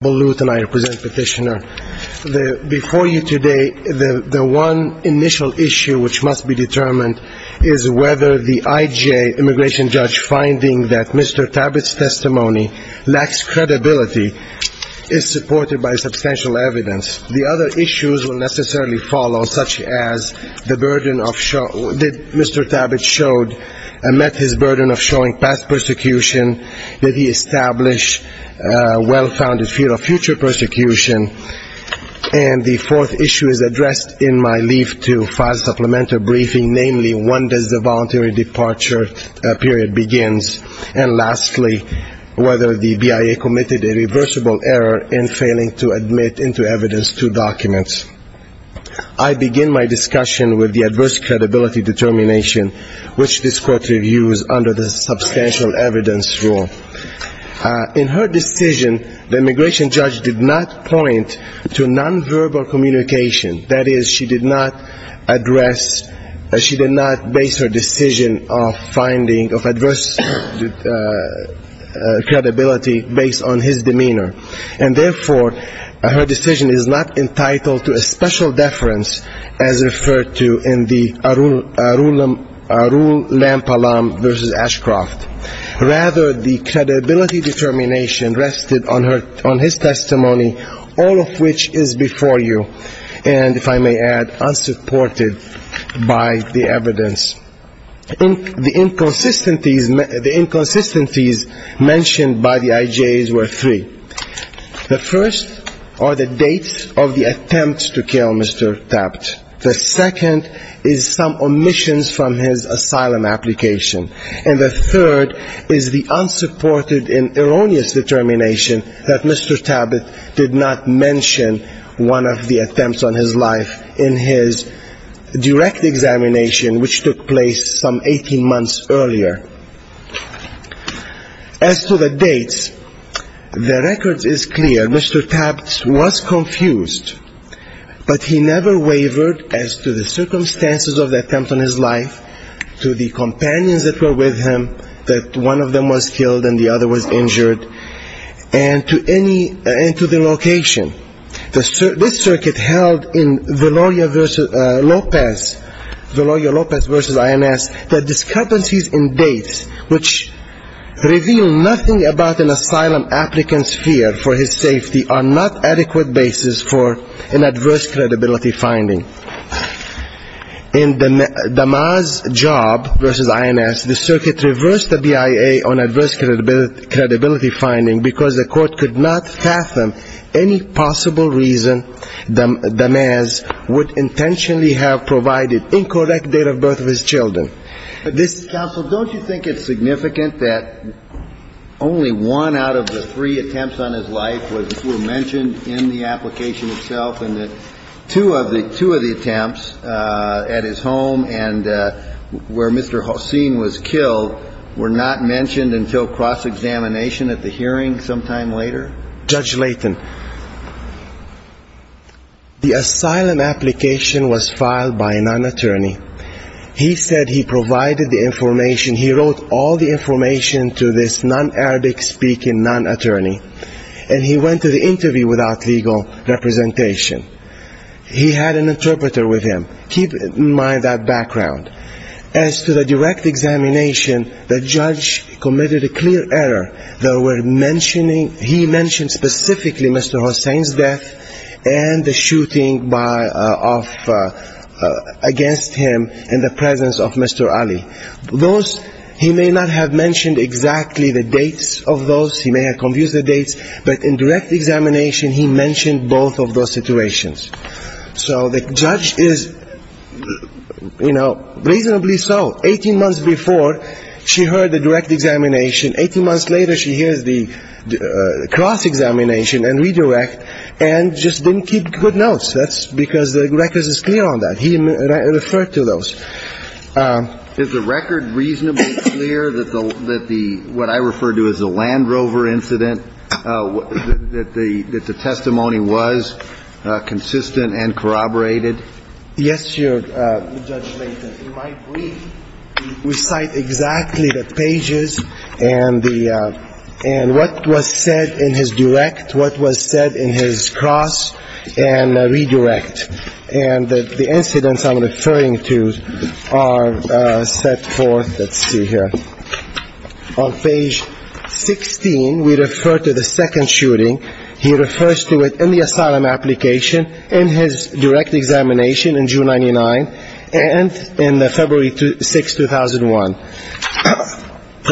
and I represent Petitioner. Before you today, the one initial issue which must be determined is whether the IJ immigration judge finding that Mr. Tabet's testimony lacks credibility is supported by substantial evidence. The other issues will necessarily follow, such as did Mr. Tabet met his burden of showing past persecution? Did he establish a well-founded field of future persecution? And the fourth issue is addressed in my leave to file supplemental briefing, namely, when does the voluntary departure period begins? And lastly, whether the BIA committed a reversible error in failing to admit into evidence two documents? I begin my discussion with the adverse credibility determination which this Court reviews under the substantial evidence rule. In her decision, the immigration judge did not point to non-verbal communication. That is, she did not address, she did not base her decision of finding of adverse credibility based on his demeanor. And therefore, her decision is not entitled to a special deference as referred to in the Arul Lam Palam v. Ashcroft. Rather, the credibility determination rested on his testimony, all of which is before you and, if I may add, unsupported by the evidence. The inconsistencies mentioned by the IJs were three. The first are the dates of the attempts to kill Mr. Tabat. The second is some omissions from his asylum application. And the third is the unsupported and erroneous determination that Mr. Tabat did not mention one of the attempts on his life in his direct examination which took place some 18 months earlier. As to the dates, the record is clear. Mr. Tabat did not mention one of the attempts on his life. Mr. Tabat was confused, but he never wavered as to the circumstances of the attempt on his life, to the companions that were with him, that one of them was killed and the other was injured, and to any, and to the location. This circuit held in Veloria v. Lopez, Veloria Lopez v. INS, the discrepancies in dates which reveal nothing about an asylum applicant's fear for his safety are not adequate basis for an adverse credibility finding. In Damaz Job v. INS, the circuit reversed the BIA on adverse credibility finding because the court could not fathom any possible reason Damaz would intentionally have provided incorrect date of birth of his children. Counsel, don't you think it's significant that only one out of the three attempts on his life were mentioned in the application itself and that two of the attempts at his home and where Mr. Hossein was killed were not mentioned until cross-examination at the hearing sometime later? Judge Layton, the asylum application was filed by a non-attorney. He said he could not provide the information. He wrote all the information to this non-Arabic speaking non-attorney and he went to the interview without legal representation. He had an interpreter with him. Keep in mind that background. As to the direct examination, the judge committed a clear error. They were mentioning, he mentioned specifically Mr. Hossein's death and the shooting by, of, against him in the presence of Mr. Ali. Those, he may not have mentioned exactly the dates of those, he may have confused the dates, but in direct examination he mentioned both of those situations. So the judge is, you know, reasonably so. Eighteen months before she heard the direct examination. Eighteen months later she hears the cross-examination and redirect and just didn't keep good notes. That's because the records is clear on that. He referred to those. Is the record reasonably clear that the, what I refer to as the Land Rover incident, that the testimony was consistent and corroborated? Yes, Your Honor. Judge Layton, in my brief, we cite exactly the pages and the, and what was said in his cross and redirect. And the incidents I'm referring to are set forth, let's see here. On page 16 we refer to the second shooting. He refers to it in the asylum application, in his direct examination in June 99 and in February 6, 2001.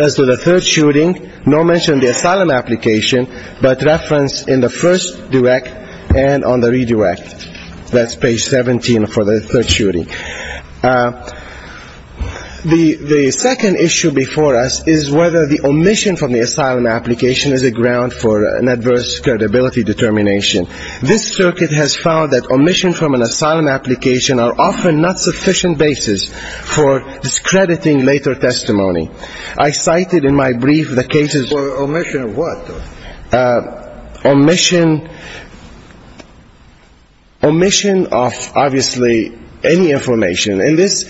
As to the third shooting, nor mention the asylum application, but reference in the first direct and on the redirect. That's page 17 for the third shooting. The second issue before us is whether the omission from the asylum application is a ground for an adverse credibility determination. This circuit has found that omission from an asylum application are often not sufficient basis for discrediting later testimony. I cited in my brief the cases for omission of what? Omission, omission of obviously any information. And this,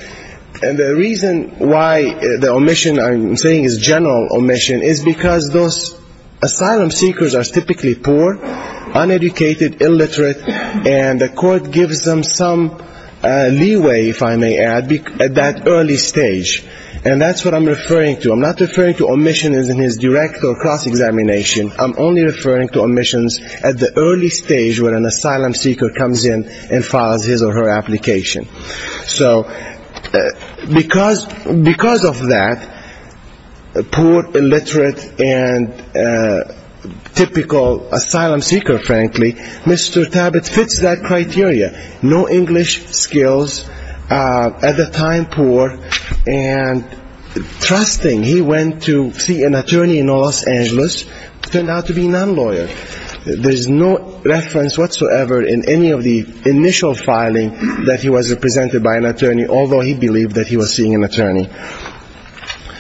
and the reason why the omission I'm saying is general omission is because those asylum seekers are typically poor, uneducated, illiterate, and the court gives them some leeway, if I may add, at that early stage. And that's what I'm referring to. I'm not referring to omission in his direct or cross-examination. I'm only referring to omissions at the early stage when an asylum seeker comes in and files his or her application. So because of that, poor, illiterate, and typical asylum seeker, frankly, Mr. Tabat fits that criteria. No English skills, at the time poor, and trusting, he went to see an attorney in Los Angeles, turned out to be non-lawyer. There's no reference whatsoever in any of the initial filing that he was represented by an attorney, although he believed that he was seeing an attorney.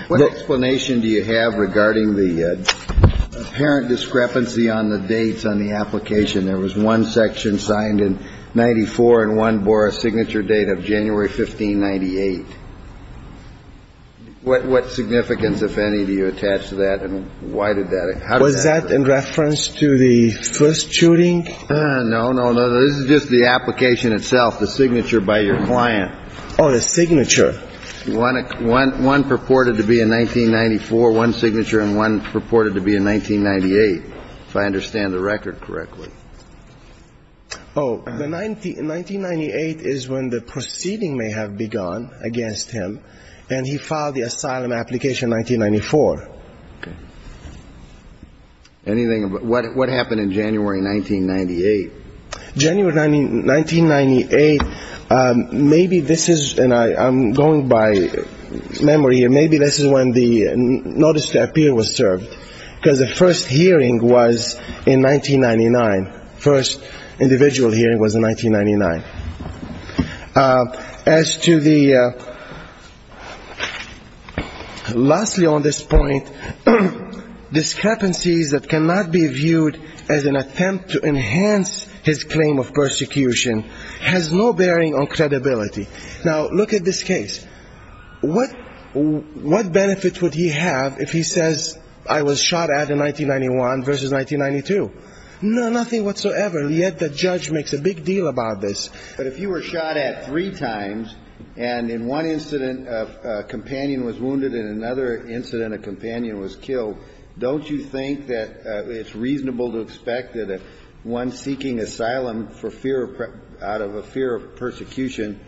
What explanation do you have regarding the apparent discrepancy on the dates on the application? There was one section signed in 94 and one bore a signature date of January 15, 98. What significance, if any, do you attach to that, and why did that happen? Was that in reference to the first shooting? No, no, no. This is just the application itself, the signature by your client. Oh, the signature. One purported to be in 1994, one signature, and one purported to be in 1998, if I understand the record correctly. Oh, the 1998 is when the proceeding may have begun against him, and he filed the asylum application in 1994. Anything, what happened in January 1998? January 1998, maybe this is, and I'm going by memory here, maybe this is when the notice to appear was in 1999, first individual hearing was in 1999. As to the, lastly on this point, discrepancies that cannot be viewed as an attempt to enhance his claim of persecution has no bearing on credibility. Now, look at this case. What benefit would he have if he says I was shot at in 1991 versus 1992? No, no, nothing whatsoever, yet the judge makes a big deal about this. But if you were shot at three times, and in one incident a companion was wounded and in another incident a companion was killed, don't you think that it's reasonable to expect that one seeking asylum for fear of, out of a fear of persecution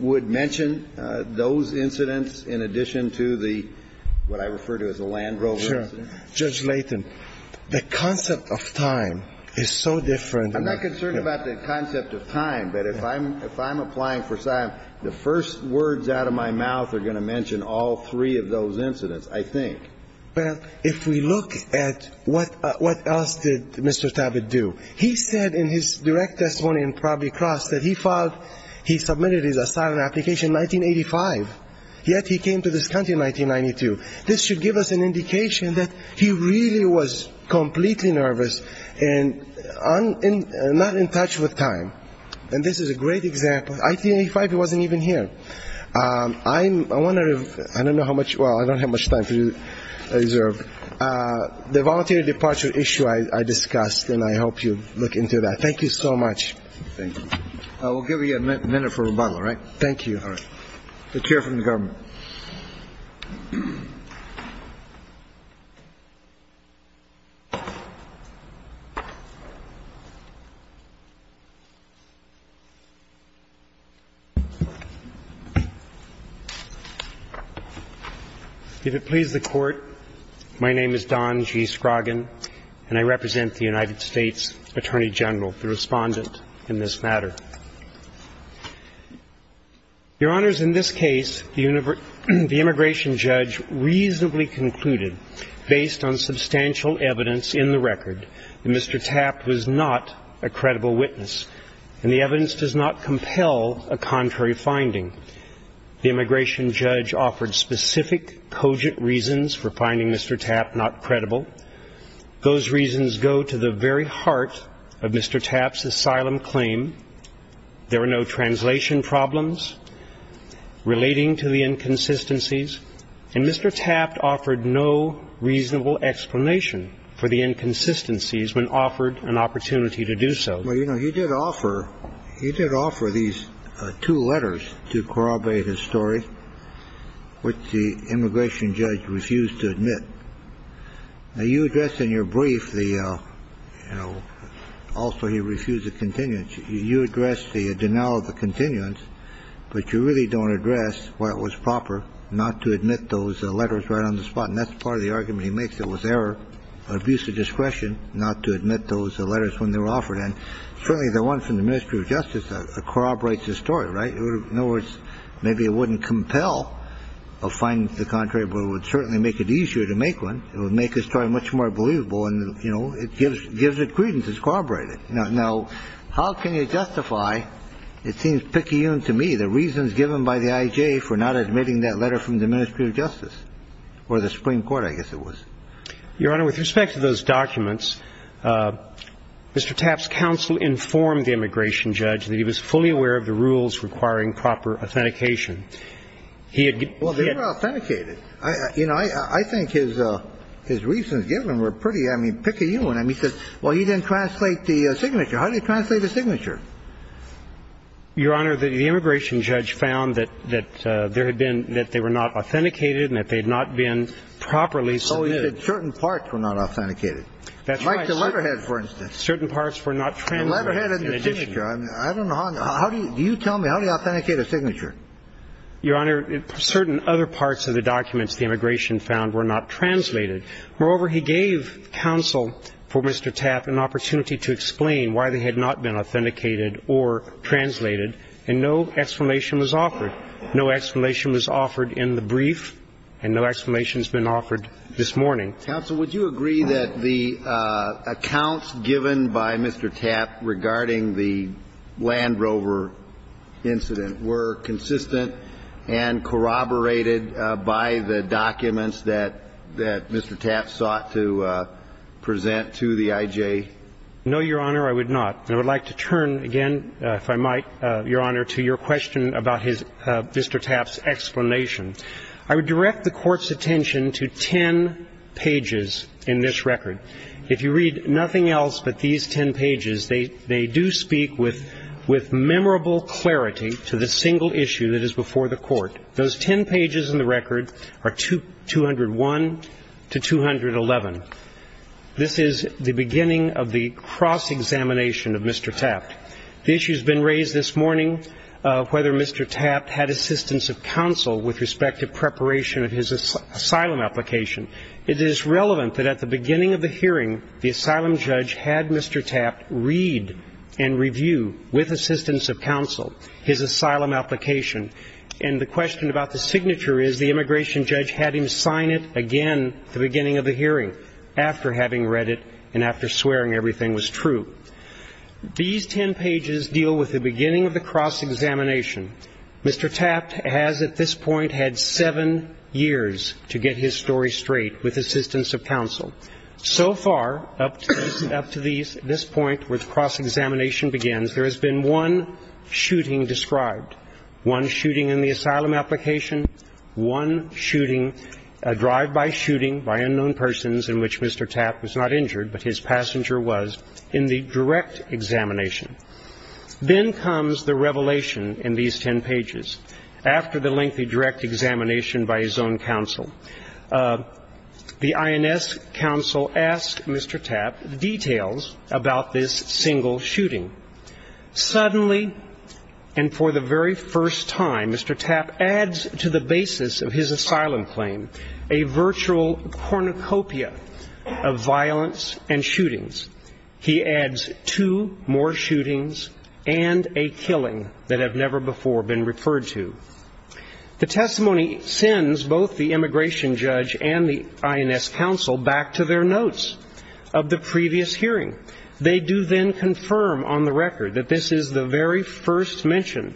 would mention those incidents in addition to the, what I refer to as the Land Rover incident? I'm not concerned about the concept of time, but if I'm applying for asylum, the first words out of my mouth are going to mention all three of those incidents, I think. Well, if we look at what else did Mr. Tabbit do? He said in his direct testimony in Pravi Cross that he filed, he submitted his asylum application in 1985, yet he came to this application that he really was completely nervous and not in touch with time. And this is a great example. In 1985 he wasn't even here. I wonder if, I don't know how much, well, I don't have much time to reserve. The voluntary departure issue I discussed, and I hope you look into that. Thank you so much. Thank you. We'll give you a minute for rebuttal, all right? Thank you. If it pleases the Court, my name is Don G. Scroggin, and I represent the United States Attorney General, the respondent in this matter. Your Honors, in this case, the immigration judge reasonably concluded, based on substantial evidence in the record, that Mr. Tabbit was not a credible witness, and the evidence does not compel a contrary finding. The immigration judge offered specific, cogent reasons for finding Mr. Tabbit not credible. Those reasons go to the very heart of Mr. Tabbit's asylum claim. There are no translation problems relating to the inconsistencies. And Mr. Tabbit offered no reasonable explanation for the inconsistencies when offered an opportunity to do so. Well, you know, he did offer these two letters to corroborate his story, which the immigration judge refused to admit. Now, you addressed in your brief the, you know, also he refused a continuance. You addressed the denial of the continuance. But you really don't address why it was proper not to admit those letters right on the spot. And that's part of the argument he makes. It was error, abuse of discretion not to admit those letters when they were offered. And certainly the one from the Ministry of Justice corroborates the story, right? In other words, maybe it wouldn't compel a finding to the contrary, but it would certainly make it easier to make one. It would make his story much more believable. And, you know, it gives it credence. It's corroborated. Now, how can you justify, it seems picayune to me, the reasons given by the I.J. for not admitting that letter from the Ministry of Justice or the Supreme Court, I guess it was. Your Honor, with respect to those documents, Mr. Tabbit's counsel informed the immigration judge that he was fully aware of the rules requiring proper authentication. Well, they were authenticated. You know, I think his reasons given were pretty, I mean, picayune. I mean, he said, well, he didn't translate the signature. How did he translate the signature? Your Honor, the immigration judge found that there had been, that they were not authenticated and that they had not been properly submitted. Oh, he said certain parts were not authenticated. That's right. Like the letterhead, for instance. Certain parts were not translated. The letterhead and the signature. I don't know. How do you tell me, how do you authenticate a signature? Your Honor, certain other parts of the documents the immigration found were not translated. Moreover, he gave counsel for Mr. Tabbit an opportunity to explain why they had not been authenticated or translated, and no explanation was offered. No explanation was offered in the brief, and no explanation has been offered this morning. Counsel, would you agree that the accounts given by Mr. Tabbit regarding the Land Rover incident were consistent and corroborated by the documents that Mr. Tabbit sought to present to the IJ? No, Your Honor, I would not. And I would like to turn again, if I might, Your Honor, to your question about Mr. Tabbit's explanation. I would direct the Court's attention to ten pages in this record. If you read nothing else but these ten pages, they do speak with memorable clarity to the single issue that is before the Court. Those ten pages in the record are 201 to 211. This is the beginning of the cross-examination of Mr. Tabbit. The issue has been raised this morning of whether Mr. Tabbit had assistance of counsel with respect to preparation of his asylum application. It is relevant that at the beginning of the hearing, the asylum judge had Mr. Tabbit read and review, with assistance of counsel, his asylum application. And the question about the signature is the immigration judge had him sign it again at the beginning of the hearing, after having read it and after swearing everything was true. These ten pages deal with the beginning of the cross-examination. Mr. Tabbit has, at this point, had seven years to get his story straight, with assistance of counsel. So far, up to this point, where the cross-examination begins, there has been one shooting described, one shooting in the asylum application, one shooting, a drive-by shooting by unknown persons in which Mr. Tabbit was not injured, but his passenger was, in the direct examination. Then comes the revelation in these ten pages. After the lengthy direct examination by his own counsel, the INS counsel asked Mr. Tabbit details about this single shooting. Suddenly, and for the very first time, Mr. Tabbit adds to the basis of his asylum claim a virtual cornucopia of violence and shootings. He adds two more shootings and a killing that have never before been referred to. The testimony sends both the immigration judge and the INS counsel back to their notes of the previous hearing. They do then confirm on the record that this is the very first mention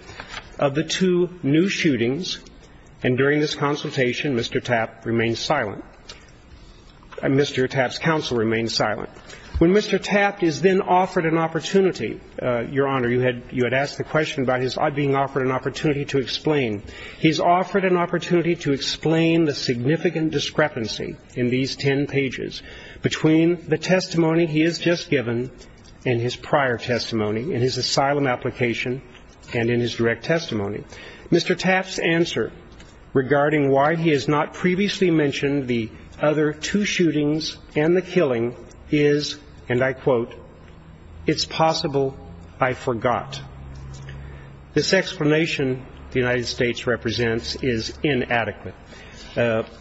of the two new shootings. And during this consultation, Mr. Tabbit remains silent. Mr. Tabbit's counsel remains silent. When Mr. Tabbit is then offered an opportunity, Your Honor, you had asked the question about his being offered an opportunity to explain. He's offered an opportunity to explain the significant discrepancy in these ten pages. Between the testimony he has just given and his prior testimony in his asylum application and in his direct testimony, Mr. Tabbit's answer regarding why he has not previously mentioned the other two shootings and the killing is, and I quote, it's possible I forgot. This explanation the United States represents is inadequate.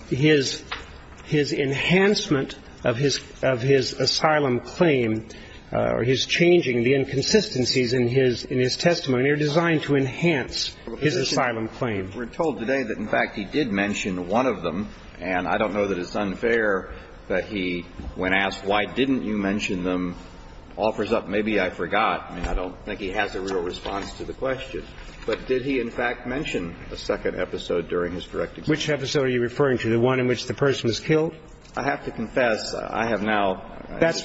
His enhancement of his asylum claim or his changing the inconsistencies in his testimony are designed to enhance his asylum claim. We're told today that, in fact, he did mention one of them. And I don't know that it's unfair that he, when asked why didn't you mention them, offers up maybe I forgot. I mean, I don't think he has a real response to the question. But did he, in fact, mention a second episode during his direct experience? Which episode are you referring to, the one in which the person was killed? I have to confess I have now lost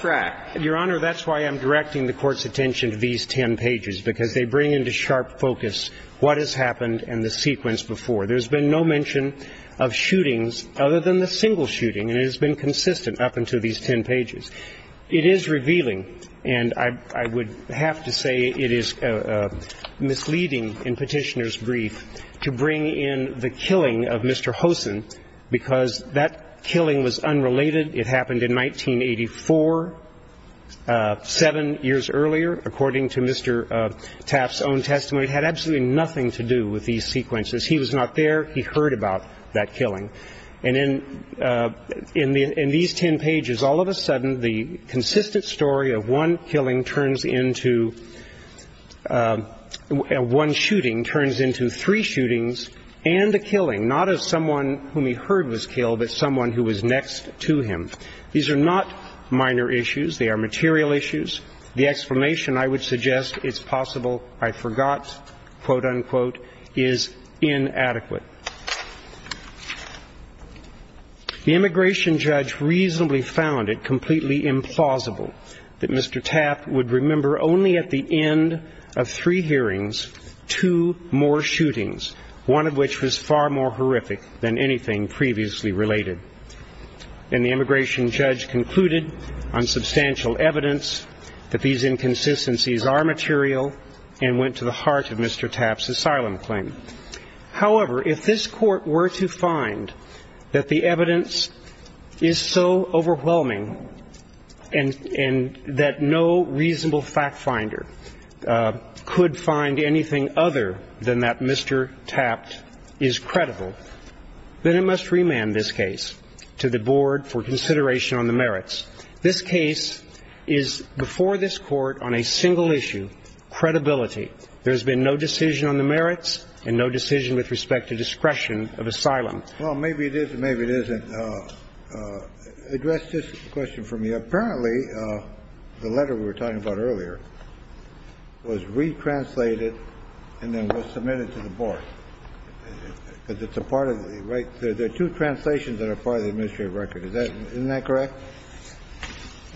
track. Your Honor, that's why I'm directing the Court's attention to these ten pages, because they bring into sharp focus what has happened and the sequence before. There's been no mention of shootings other than the single shooting, and it has been consistent up until these ten pages. It is revealing, and I would have to say it is misleading in Petitioner's brief to bring in the killing of Mr. Hosen, because that killing was unrelated. It happened in 1984, seven years earlier, according to Mr. Taft's own testimony. It had absolutely nothing to do with these sequences. He was not there. He heard about that killing. And in these ten pages, all of a sudden, the consistent story of one killing turns into one shooting turns into three shootings and a killing, not as someone whom he heard was killed, but someone who was next to him. These are not minor issues. They are material issues. The explanation, I would suggest, it's possible I forgot, quote, unquote, is inadequate. The immigration judge reasonably found it completely implausible that Mr. Taft would remember only at the end of three hearings two more shootings, one of which was far more horrific than anything previously related. And the immigration judge concluded on substantial evidence that these inconsistencies are material and went to the heart of Mr. Taft's asylum claim. However, if this Court were to find that the evidence is so overwhelming and that no reasonable fact finder could find anything other than that Mr. Taft is credible, then it must remand this case to the Board for consideration on the merits. This case is, before this Court, on a single issue, credibility. There has been no decision on the merits and no decision with respect to discretion of asylum. Well, maybe it is and maybe it isn't. Address this question for me. Apparently, the letter we were talking about earlier was retranslated and then was submitted to the Board. It's a part of the right. There are two translations that are part of the administrative record. Isn't that correct?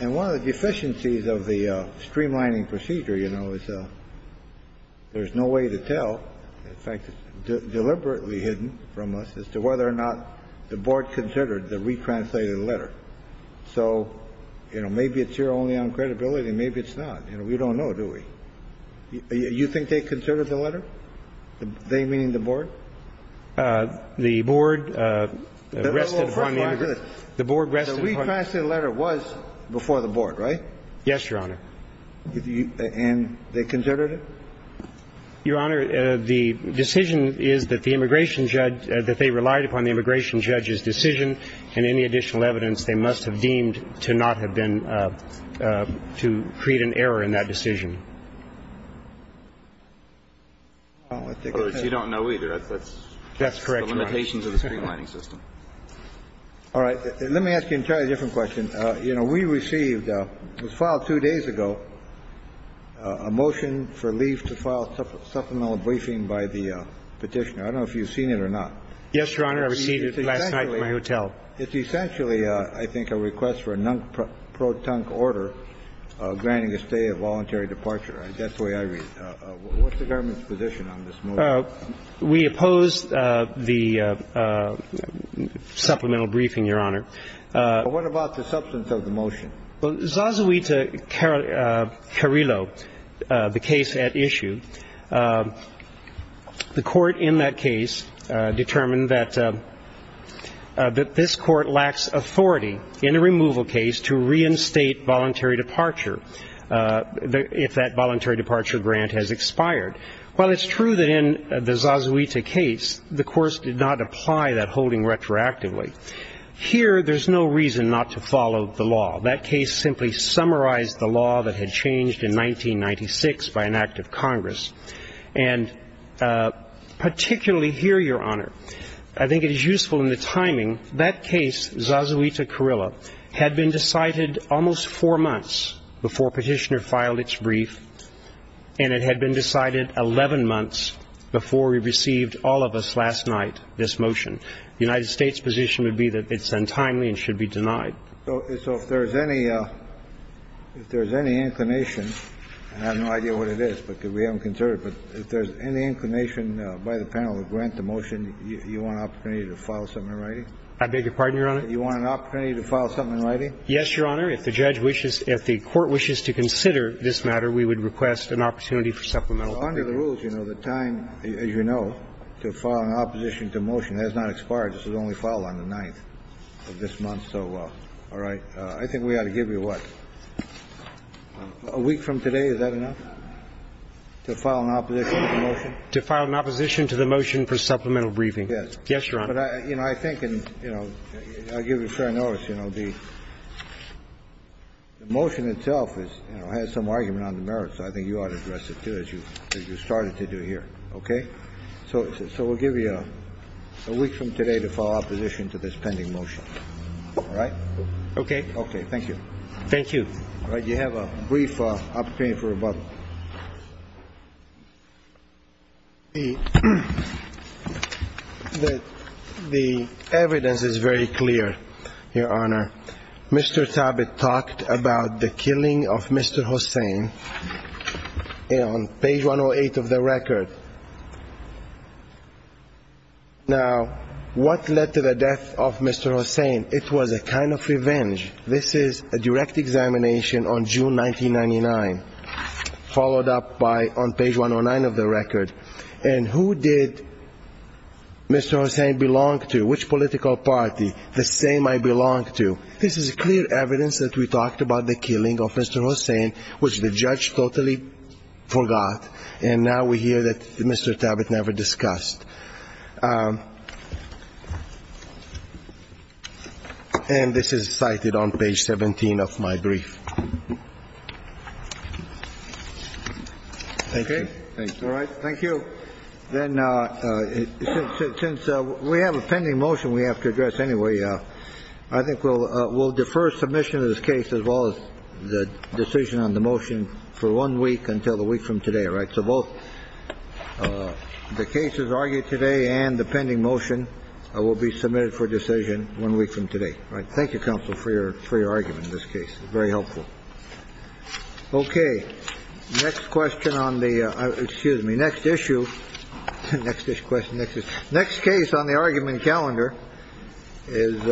And one of the deficiencies of the streamlining procedure, you know, is there's no way to tell. In fact, it's deliberately hidden from us as to whether or not the Board considered the retranslated letter. So, you know, maybe it's your only uncredibility and maybe it's not. You know, we don't know, do we? You think they considered the letter? They, meaning the Board? The Board rested upon the integrity. The Board rested upon the integrity. The retranslated letter was before the Board, right? Yes, Your Honor. And they considered it? Your Honor, the decision is that the immigration judge, that they relied upon the immigration judge's decision and any additional evidence they must have deemed to not have been, to create an error in that decision. I don't think I have. You don't know either. That's correct, Your Honor. That's the limitations of the streamlining system. All right. Let me ask you an entirely different question. You know, we received, it was filed two days ago, a motion for leave to file supplemental briefing by the Petitioner. I don't know if you've seen it or not. Yes, Your Honor. I received it last night from my hotel. It's essentially, I think, a request for a non-pro-tunk order granting a stay of voluntary departure. That's the way I read it. What's the government's position on this motion? We oppose the supplemental briefing, Your Honor. What about the substance of the motion? Well, Zazuita Carrillo, the case at issue, the court in that case determined that this court lacks authority in a removal case to reinstate voluntary departure if that voluntary departure grant has expired. While it's true that in the Zazuita case, the court did not apply that holding retroactively, here there's no reason not to follow the law. That case simply summarized the law that had changed in 1996 by an act of Congress. And particularly here, Your Honor, I think it is useful in the timing, that case, Zazuita Carrillo, had been decided almost four months before Petitioner filed its brief, and it had been decided 11 months before we received, all of us, last night, this motion. The United States' position would be that it's untimely and should be denied. So if there's any inclination, and I have no idea what it is because we haven't considered it, but if there's any inclination by the panel to grant the motion, you want an opportunity to file something in writing? I beg your pardon, Your Honor? You want an opportunity to file something in writing? Yes, Your Honor. If the judge wishes, if the court wishes to consider this matter, we would request an opportunity for supplemental briefing. Under the rules, you know, the time, as you know, to file an opposition to motion has not expired. This was only filed on the 9th of this month. So, all right. I think we ought to give you, what, a week from today? Is that enough to file an opposition to the motion? To file an opposition to the motion for supplemental briefing. Yes, Your Honor. But, you know, I think, and, you know, I'll give you fair notice, you know, the motion itself is, you know, has some argument on the merits. I think you ought to address it, too, as you started to do here. Okay? So we'll give you a week from today to file opposition to this pending motion. All right? Okay. Okay. Thank you. Thank you. You have a brief opportunity for rebuttal. The evidence is very clear, Your Honor. Mr. Tabet talked about the killing of Mr. Hossain on page 108 of the record. Now, what led to the death of Mr. Hossain? It was a kind of revenge. This is a direct examination on June 1999. Followed up by on page 109 of the record. And who did Mr. Hossain belong to? Which political party? The same I belong to. This is clear evidence that we talked about the killing of Mr. Hossain, which the judge totally forgot. And now we hear that Mr. Tabet never discussed. And this is cited on page 17 of my brief. Thank you. Thank you. All right. Thank you. Then since we have a pending motion we have to address anyway, I think we'll defer submission of this case, as well as the decision on the motion, for one week until the week from today. All right? So both the cases argued today and the pending motion will be submitted for decision one week from today. Thank you, counsel, for your free argument in this case. Very helpful. OK. Next question on the excuse me, next issue. Next question. Next case on the argument calendar is.